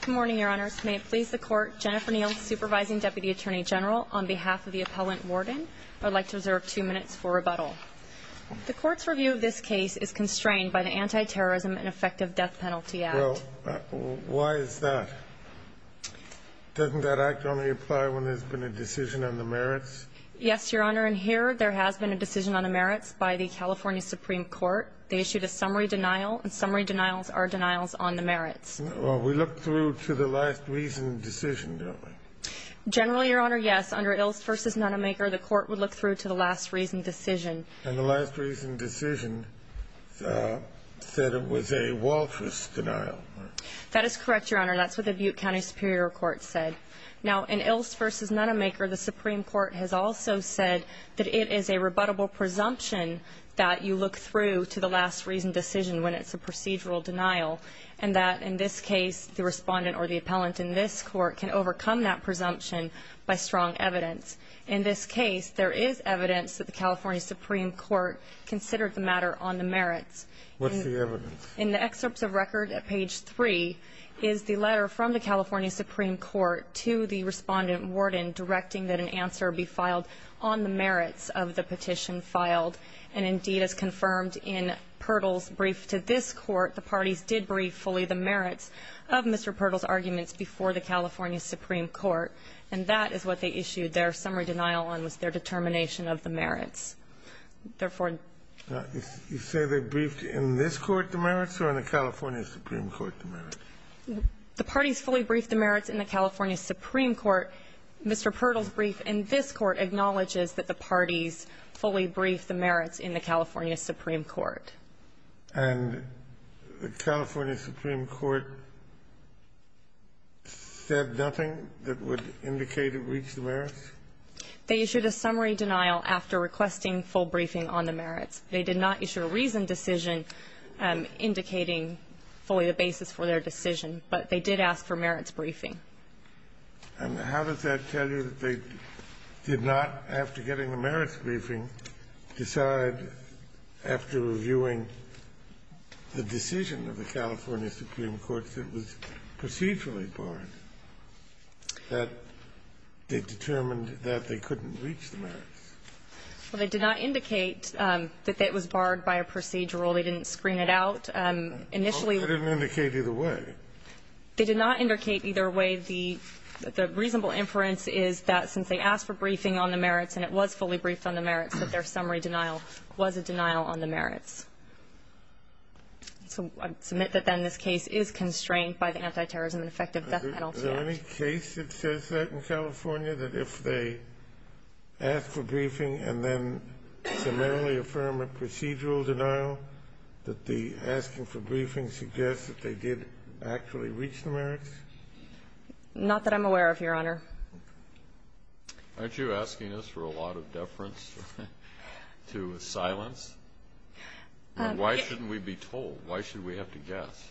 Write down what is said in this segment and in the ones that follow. Good morning, Your Honor. May it please the Court, Jennifer Neal, Supervising Deputy Attorney General, on behalf of the Appellant Warden, I would like to reserve two minutes for rebuttal. The Court's review of this case is constrained by the Anti-Terrorism and Effective Death Penalty Act. Well, why is that? Doesn't that act only apply when there's been a decision on the merits? Yes, Your Honor, and here there has been a decision on the merits by the California Supreme Court. They issued a summary denial, and summary denials are denials on the merits. Well, we look through to the last reasoned decision, don't we? Generally, Your Honor, yes. Under Ilst v. Nonemaker, the Court would look through to the last reasoned decision. And the last reasoned decision said it was a Walters denial. That is correct, Your Honor. That's what the Butte County Superior Court said. Now, in Ilst v. Nonemaker, the Supreme Court said it would look through to the last reasoned decision when it's a procedural denial, and that, in this case, the Respondent or the Appellant in this Court can overcome that presumption by strong evidence. In this case, there is evidence that the California Supreme Court considered the matter on the merits. What's the evidence? In the excerpts of record at page 3 is the letter from the California Supreme Court to the Respondent Warden directing that an answer be filed on the merits of the petition filed, and indeed as confirmed in Pertl's brief to this Court, the parties did brief fully the merits of Mr. Pertl's arguments before the California Supreme Court. And that is what they issued their summary denial on, was their determination of the merits. Therefore therefore. You say they briefed in this Court the merits or in the California Supreme Court the merits? The parties fully briefed the merits in the California Supreme Court. Mr. Pertl's brief in this Court acknowledges that the parties fully briefed the merits in the California Supreme Court. And the California Supreme Court said nothing that would indicate it reached the merits? They issued a summary denial after requesting full briefing on the merits. They did not issue a reasoned decision indicating fully the basis for their decision, but they did ask for merits briefing. And how does that tell you that they did not, after getting the merits briefing, decide, after reviewing the decision of the California Supreme Court that was procedurally barred, that they determined that they couldn't reach the merits? Well, they did not indicate that that was barred by a procedural. They didn't screen it out. Initially they didn't indicate either way. They did not indicate either way. The reasonable inference is that since they asked for briefing on the merits and it was fully briefed on the merits, that their summary denial was a denial on the merits. So I submit that then this case is constrained by the Anti-Terrorism and Effective Death Penalty Act. Is there any case that says that in California, that if they ask for briefing and then summarily affirm a procedural denial, that the asking for briefing suggests that they did actually reach the merits? Not that I'm aware of, Your Honor. Aren't you asking us for a lot of deference to silence? Why shouldn't we be told? Why should we have to guess?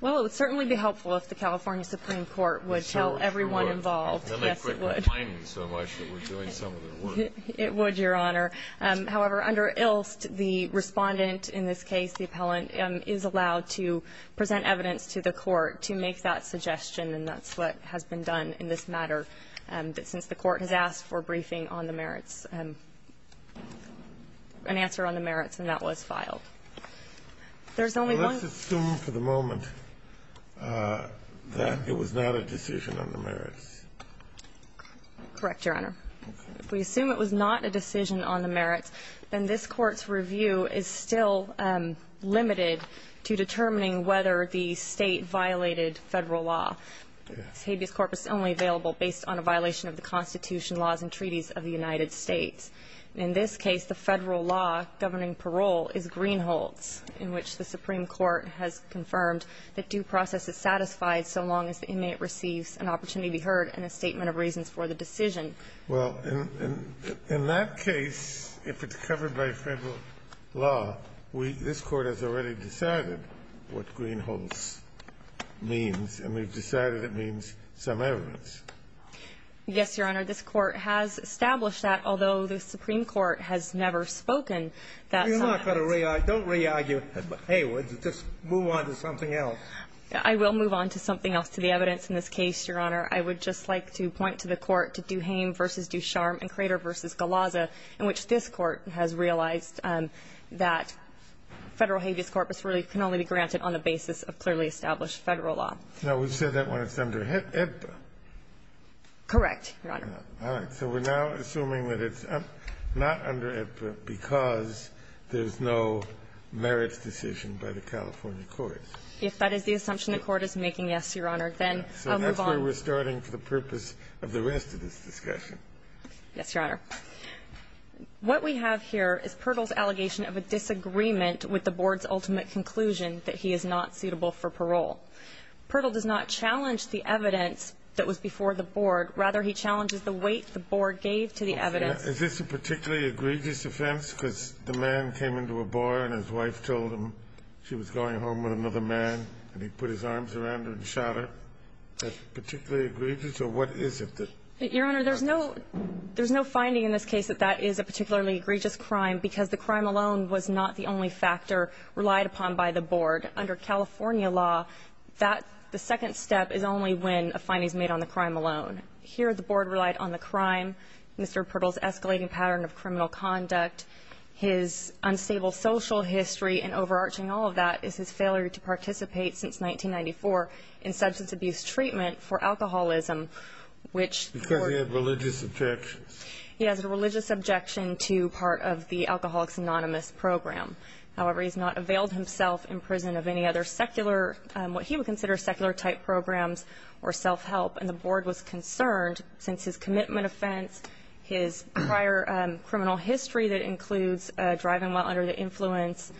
Well, it would certainly be helpful if the California Supreme Court would tell everyone involved. Yes, it would. It would, Your Honor. However, under Ilst, the Respondent in this case, the appellant, is allowed to present evidence to the court to make that suggestion, and that's what has been done in this matter, that since the court has asked for briefing on the merits, an answer on the merits, and that was filed. There's only one Let's assume for the moment that it was not a decision on the merits. Correct, Your Honor. If we assume it was not a decision on the merits, then this Court's review is still limited to determining whether the State violated Federal law. Yes. Habeas Corpus is only available based on a violation of the Constitution laws and treaties of the United States. In this case, the Federal law governing parole is Greenholz, in which the Supreme Court has confirmed that due process is satisfied so long as the inmate receives an opportunity to be heard and a statement of reasons for the decision. Well, in that case, if it's covered by Federal law, we This Court has already decided what Greenholz means, and we've decided it means some evidence. Yes, Your Honor. This Court has established that, although the Supreme Court has never spoken, that some evidence. You're not going to re-argue. Don't re-argue Haywood. Just move on to something else. I will move on to something else, to the evidence in this case, Your Honor. I would just like to point to the Court to Duhaime v. Ducharme and Crater v. Galazza, in which this Court has realized that Federal habeas corpus really can only be granted on the basis of clearly established Federal law. No, we've said that when it's under IPPA. Correct, Your Honor. All right. So we're now assuming that it's not under IPPA because there's no merits decision by the California courts. If that is the assumption the Court is making, yes, Your Honor, then I'll move on. And that's where we're starting for the purpose of the rest of this discussion. Yes, Your Honor. What we have here is Pirtle's allegation of a disagreement with the board's ultimate conclusion that he is not suitable for parole. Pirtle does not challenge the evidence that was before the board. Rather, he challenges the weight the board gave to the evidence. Is this a particularly egregious offense because the man came into a bar and his wife told him she was going home with another man, and he put his arms around her and shot her? That's particularly egregious? Or what is it that he shot her? Your Honor, there's no finding in this case that that is a particularly egregious crime because the crime alone was not the only factor relied upon by the board. Under California law, that the second step is only when a finding is made on the crime alone. Here, the board relied on the crime, Mr. Pirtle's escalating pattern of criminal conduct, his unstable social history, and overarching all of that is his failure to participate since 1994 in substance abuse treatment for alcoholism, which Because he had religious objections. He has a religious objection to part of the Alcoholics Anonymous program. However, he's not availed himself in prison of any other secular, what he would consider secular-type programs or self-help. And the board was concerned, since his commitment offense, his prior criminal history that includes driving while under the influence,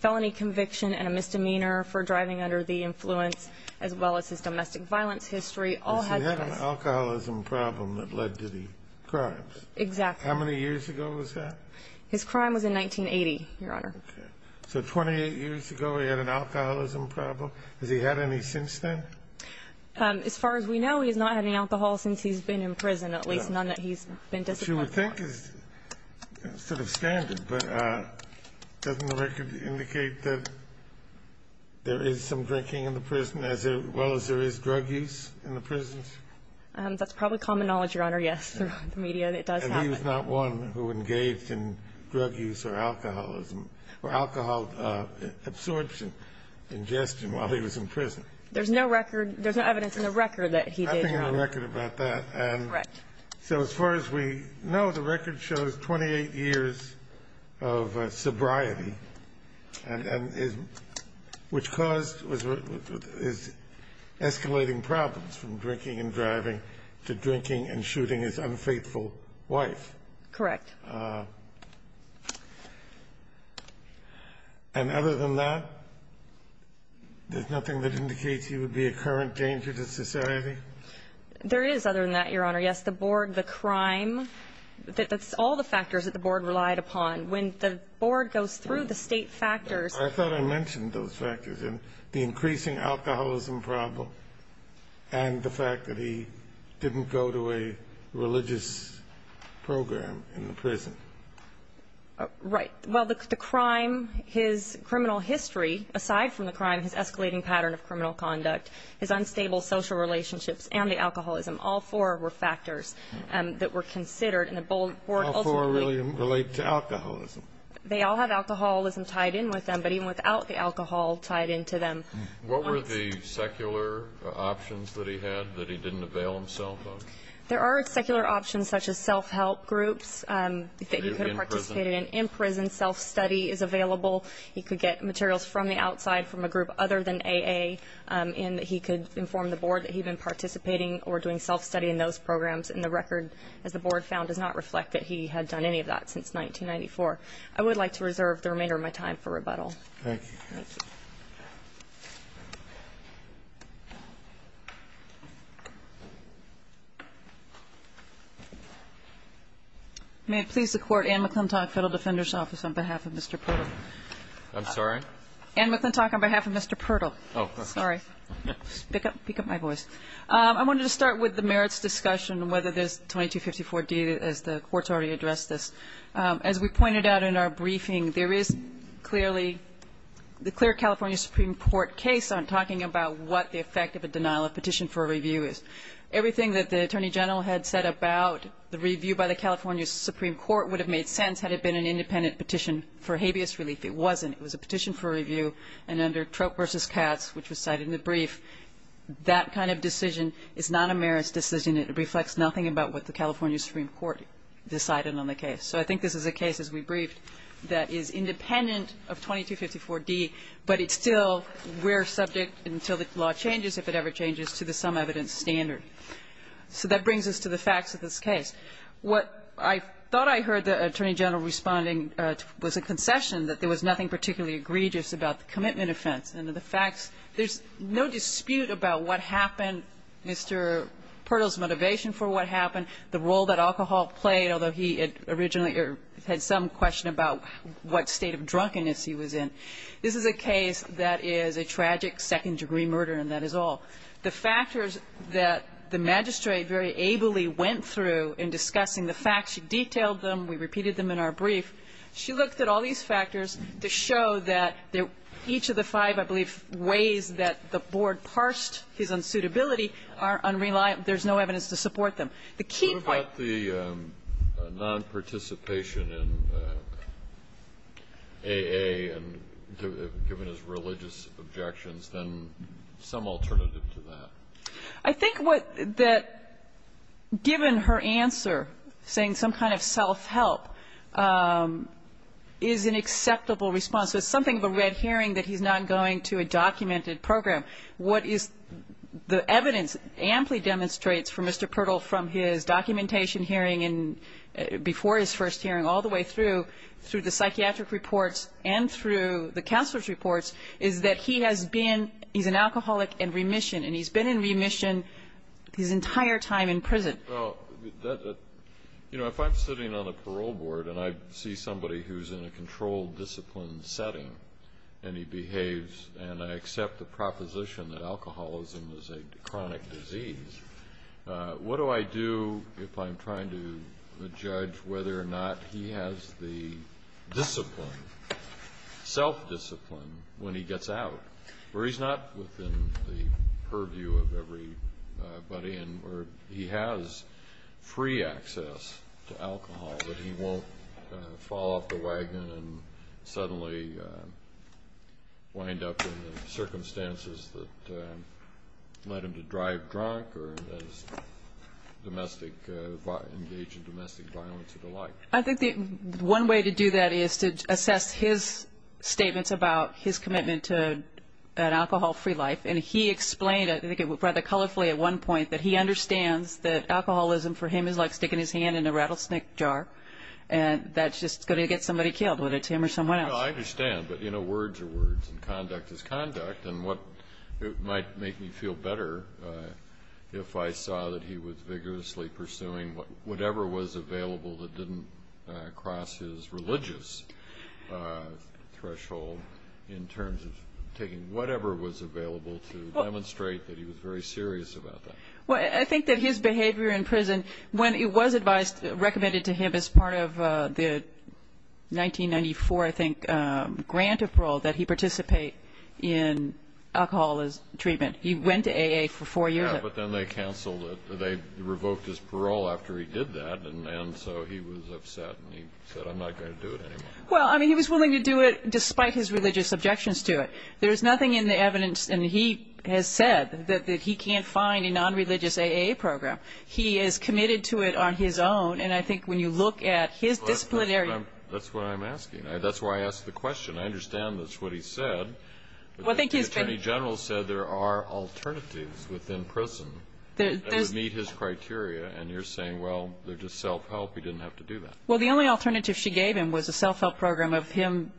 felony conviction and misdemeanor for driving under the influence, as well as his domestic violence history, all had to do with alcoholism. Problem that led to the crimes. Exactly. How many years ago was that? His crime was in 1980, Your Honor. So 28 years ago, he had an alcoholism problem. Has he had any since then? As far as we know, he has not had any alcohol since he's been in prison, at least none that he's been disciplined for. Which you would think is sort of standard. But doesn't the record indicate that there is some drinking in the prison, as well as there is drug use in the prisons? That's probably common knowledge, Your Honor. Yes, through the media, it does happen. And he was not one who engaged in drug use or alcoholism or alcohol absorption, ingestion, while he was in prison. There's no record, there's no evidence in the record that he did, Your Honor. I think there's a record about that. Correct. So as far as we know, the record shows 28 years of sobriety, which caused, is escalating problems from drinking and driving to drinking and shooting his unfaithful wife. Correct. And other than that, there's nothing that indicates he would be a current danger to society? There is other than that, Your Honor. Yes, the board, the crime, that's all the factors that the board relied upon. When the board goes through the state factors. I thought I mentioned those factors. The increasing alcoholism problem and the fact that he didn't go to a religious program in the prison. Right. Well, the crime, his criminal history, aside from the crime, his escalating pattern of criminal conduct, his unstable social relationships, and the alcoholism. All four were factors that were considered, and the board ultimately. All four really relate to alcoholism? They all have alcoholism tied in with them, but even without the alcohol tied into them. What were the secular options that he had that he didn't avail himself of? There are secular options such as self-help groups that he could have participated in. In prison. In prison, self-study is available. He could get materials from the outside from a group other than AA, and he could inform the board that he'd been participating or doing self-study in those programs. And the record, as the board found, does not reflect that he had done any of that since 1994. I would like to reserve the remainder of my time for rebuttal. Thank you. May it please the court, Anne McClintock, Federal Defender's Office, on behalf of Mr. Purtle. I'm sorry? Anne McClintock, on behalf of Mr. Purtle. Oh. Sorry. Pick up my voice. I wanted to start with the merits discussion, whether there's 2254d, as the Court's already addressed this. As we pointed out in our briefing, there is clearly the clear California Supreme Court case on talking about what the effect of a denial of petition for review is. Everything that the Attorney General had said about the review by the California Supreme Court would have made sense had it been an independent petition for habeas relief. It wasn't. It was a petition for review, and under Troop v. Katz, which was cited in the brief, that kind of decision is not a merits decision. It reflects nothing about what the California Supreme Court decided on the case. So I think this is a case, as we briefed, that is independent of 2254d, but it's still we're subject until the law changes, if it ever changes, to the sum evidence standard. So that brings us to the facts of this case. What I thought I heard the Attorney General responding was a concession that there was nothing particularly egregious about the commitment offense and the facts. There's no dispute about what happened, Mr. Purtle's motivation for what happened, the role that alcohol played, although he had originally had some question about what state of drunkenness he was in. This is a case that is a tragic second-degree murder, and that is all. The factors that the magistrate very ably went through in discussing the facts, she detailed them, we repeated them in our brief. She looked at all these factors to show that each of the five, I believe, ways that the Board parsed his unsuitability are unreliable. There's no evidence to support them. The key point the key point. Kennedy. What about the nonparticipation in AA, given his religious objections, then some alternative to that? I think that given her answer, saying some kind of self-help, is an acceptable response. So it's something of a red herring that he's not going to a documented program. What is the evidence amply demonstrates for Mr. Purtle from his documentation hearing and before his first hearing all the way through, through the psychiatric reports and through the counselor's reports, is that he has been, he's an alcoholic in remission, and he's been in remission his entire time in prison. Well, you know, if I'm sitting on the parole board and I see somebody who's in a controlled discipline setting, and he behaves, and I accept the proposition that alcoholism is a chronic disease, what do I do if I'm trying to judge whether or not he has the discipline, self-discipline when he gets out? Where he's not within the purview of everybody, and where he has free access to alcohol, but he won't fall off the wagon and suddenly wind up in the circumstances that led him to drive drunk or engage in domestic violence or the like. I think the one way to do that is to assess his statements about his commitment to an alcohol-free life, and he explained it, I think it was rather colorfully at one point, that he understands that alcoholism for him is like sticking his hand in a rattlesnake jar, and that's just going to get somebody killed, whether it's him or someone else. Well, I understand, but you know, words are words, and conduct is conduct, and what might make me feel better if I saw that he was vigorously pursuing whatever was available that didn't cross his religious threshold in terms of taking whatever was available to demonstrate that he was very serious about that. Well, I think that his behavior in prison, when it was advised, recommended to him as part of the 1994, I think, grant of parole that he participate in alcoholism treatment, he went to AA for four years. Yeah, but then they canceled it. They revoked his parole after he did that, and so he was upset, and he said, I'm not going to do it anymore. Well, I mean, he was willing to do it despite his religious objections to it. There's nothing in the evidence, and he has said that he can't find a non-religious AA program. He is committed to it on his own, and I think when you look at his disciplinary – That's what I'm asking. That's why I asked the question. I understand that's what he said. But the Attorney General said there are alternatives within prison that would meet his criteria, and you're saying, well, they're just self-help, he didn't have to do that. Well, the only alternative she gave him was a self-help program of him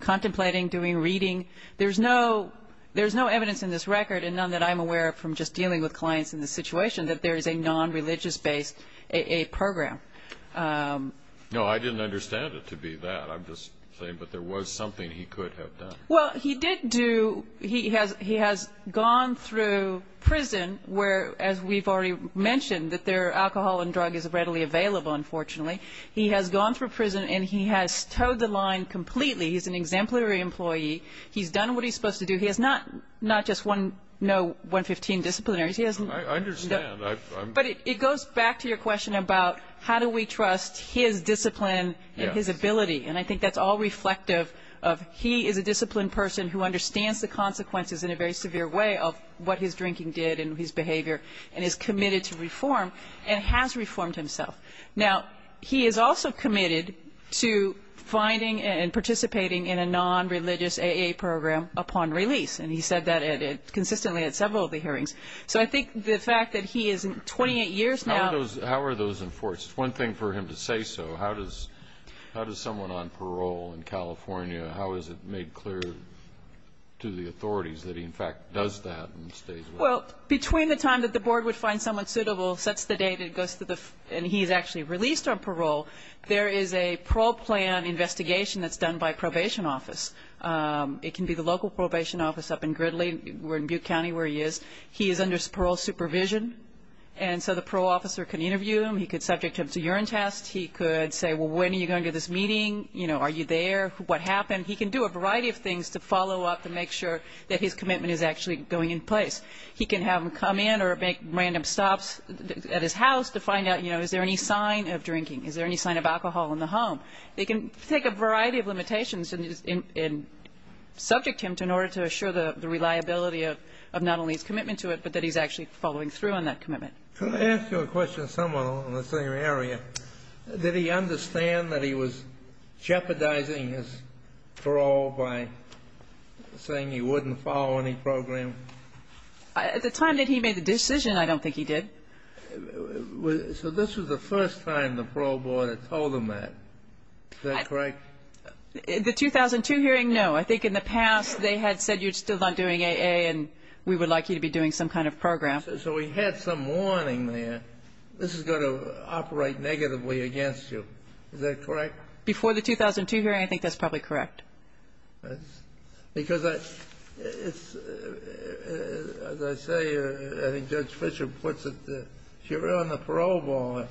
contemplating doing reading. There's no evidence in this record, and none that I'm aware of from just dealing with clients in this situation, that there is a non-religious-based AA program. No, I didn't understand it to be that. I'm just saying that there was something he could have done. Well, he did do – he has gone through prison, where, as we've already mentioned, that there are alcohol and drug is readily available, unfortunately. He has gone through prison, and he has towed the line completely. He's an exemplary employee. He's done what he's supposed to do. He has not just one – no 115 disciplinaries. He has – I understand. I'm – But it goes back to your question about how do we trust his discipline and his ability, and I think that's all reflective of he is a disciplined person who understands the consequences in a very severe way of what his drinking did and his behavior, and is committed to reform, and has reformed himself. Now, he is also committed to finding and participating in a non-religious AA program upon release, and he said that at – consistently at several of the hearings. So I think the fact that he is 28 years now – How are those enforced? One thing for him to say so. How does someone on parole in California – how is it made clear to the authorities that he, in fact, does that and stays with them? Well, between the time that the board would find someone suitable, sets the date, and he's actually released on parole, there is a parole plan investigation that's done by probation office. It can be the local probation office up in Gridley, or in Butte County, where he is. He is under parole supervision, and so the parole officer can interview him. He could subject him to a urine test. He could say, well, when are you going to this meeting? You know, are you there? What happened? He can do a variety of things to follow up and make sure that his commitment is actually going in place. He can have him come in or make random stops at his house to find out, you know, is there any sign of drinking? Is there any sign of alcohol in the home? They can take a variety of limitations and subject him in order to assure the reliability of not only his commitment to it, but that he's actually following through on that commitment. Can I ask you a question of someone in the same area? Did he understand that he was jeopardizing his parole by saying he wouldn't follow any program? At the time that he made the decision, I don't think he did. So this was the first time the parole board had told him that. Is that correct? The 2002 hearing, no. I think in the past they had said you're still not doing AA and we would like you to be doing some kind of program. So he had some warning there, this is going to operate negatively against you. Is that correct? Before the 2002 hearing, I think that's probably correct. Because as I say, I think Judge Fischer puts it, if you're on the parole board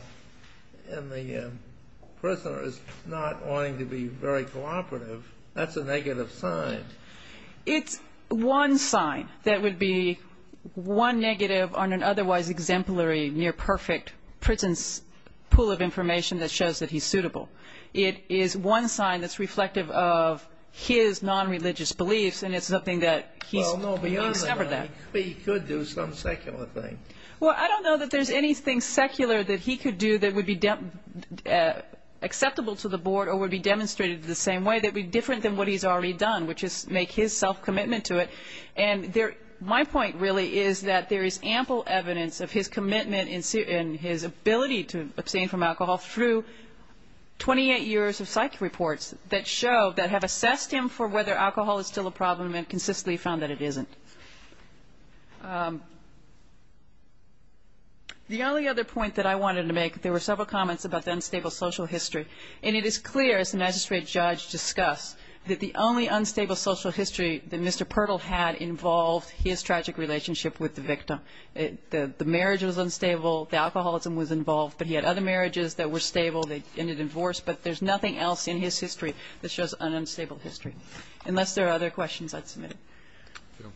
and the prisoner is not wanting to be very cooperative, that's a negative sign. It's one sign that would be one negative on an otherwise exemplary, near perfect prison pool of information that shows that he's suitable. It is one sign that's reflective of his non-religious beliefs and it's something that he's discovered that. He could do some secular thing. Well, I don't know that there's anything secular that he could do that would be acceptable to the board or would be demonstrated the same way that would be different than what he's already done, which is make his self-commitment to it. And my point really is that there is ample evidence of his commitment and his ability to abstain from alcohol through 28 years of psych reports that show, that have assessed him for whether alcohol is still a problem and consistently found that it isn't. The only other point that I wanted to make, there were several comments about the unstable social history. And it is clear, as the magistrate judge discussed, that the only unstable social history that Mr. Pirtle had involved his tragic relationship with the victim. The marriage was unstable, the alcoholism was involved, but he had other marriages that were stable, they ended in divorce, but there's nothing else in his history that shows an unstable history, unless there are other questions I'd submit. Thank you.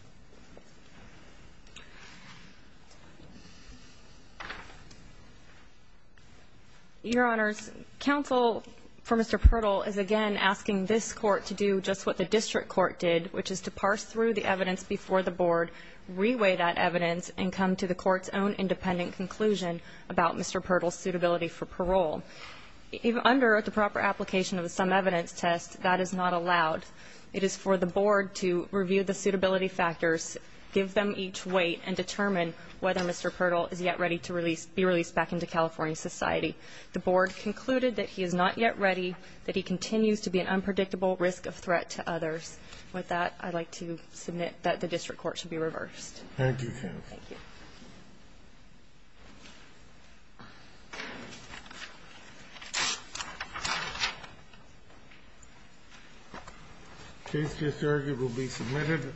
Your Honors, counsel for Mr. Pirtle is again asking this court to do just what the district court did, which is to parse through the evidence before the board, reweigh that evidence, and come to the court's own independent conclusion about Mr. Pirtle's suitability for parole. Under the proper application of the sum evidence test, that is not allowed. It is for the board to review the suitability factors, give them each weight, and determine whether Mr. Pirtle is yet ready to be released back into California society. The board concluded that he is not yet ready, that he continues to be an unpredictable risk of threat to others. With that, I'd like to submit that the district court should be reversed. Thank you, counsel. Thank you. Case just argued will be submitted.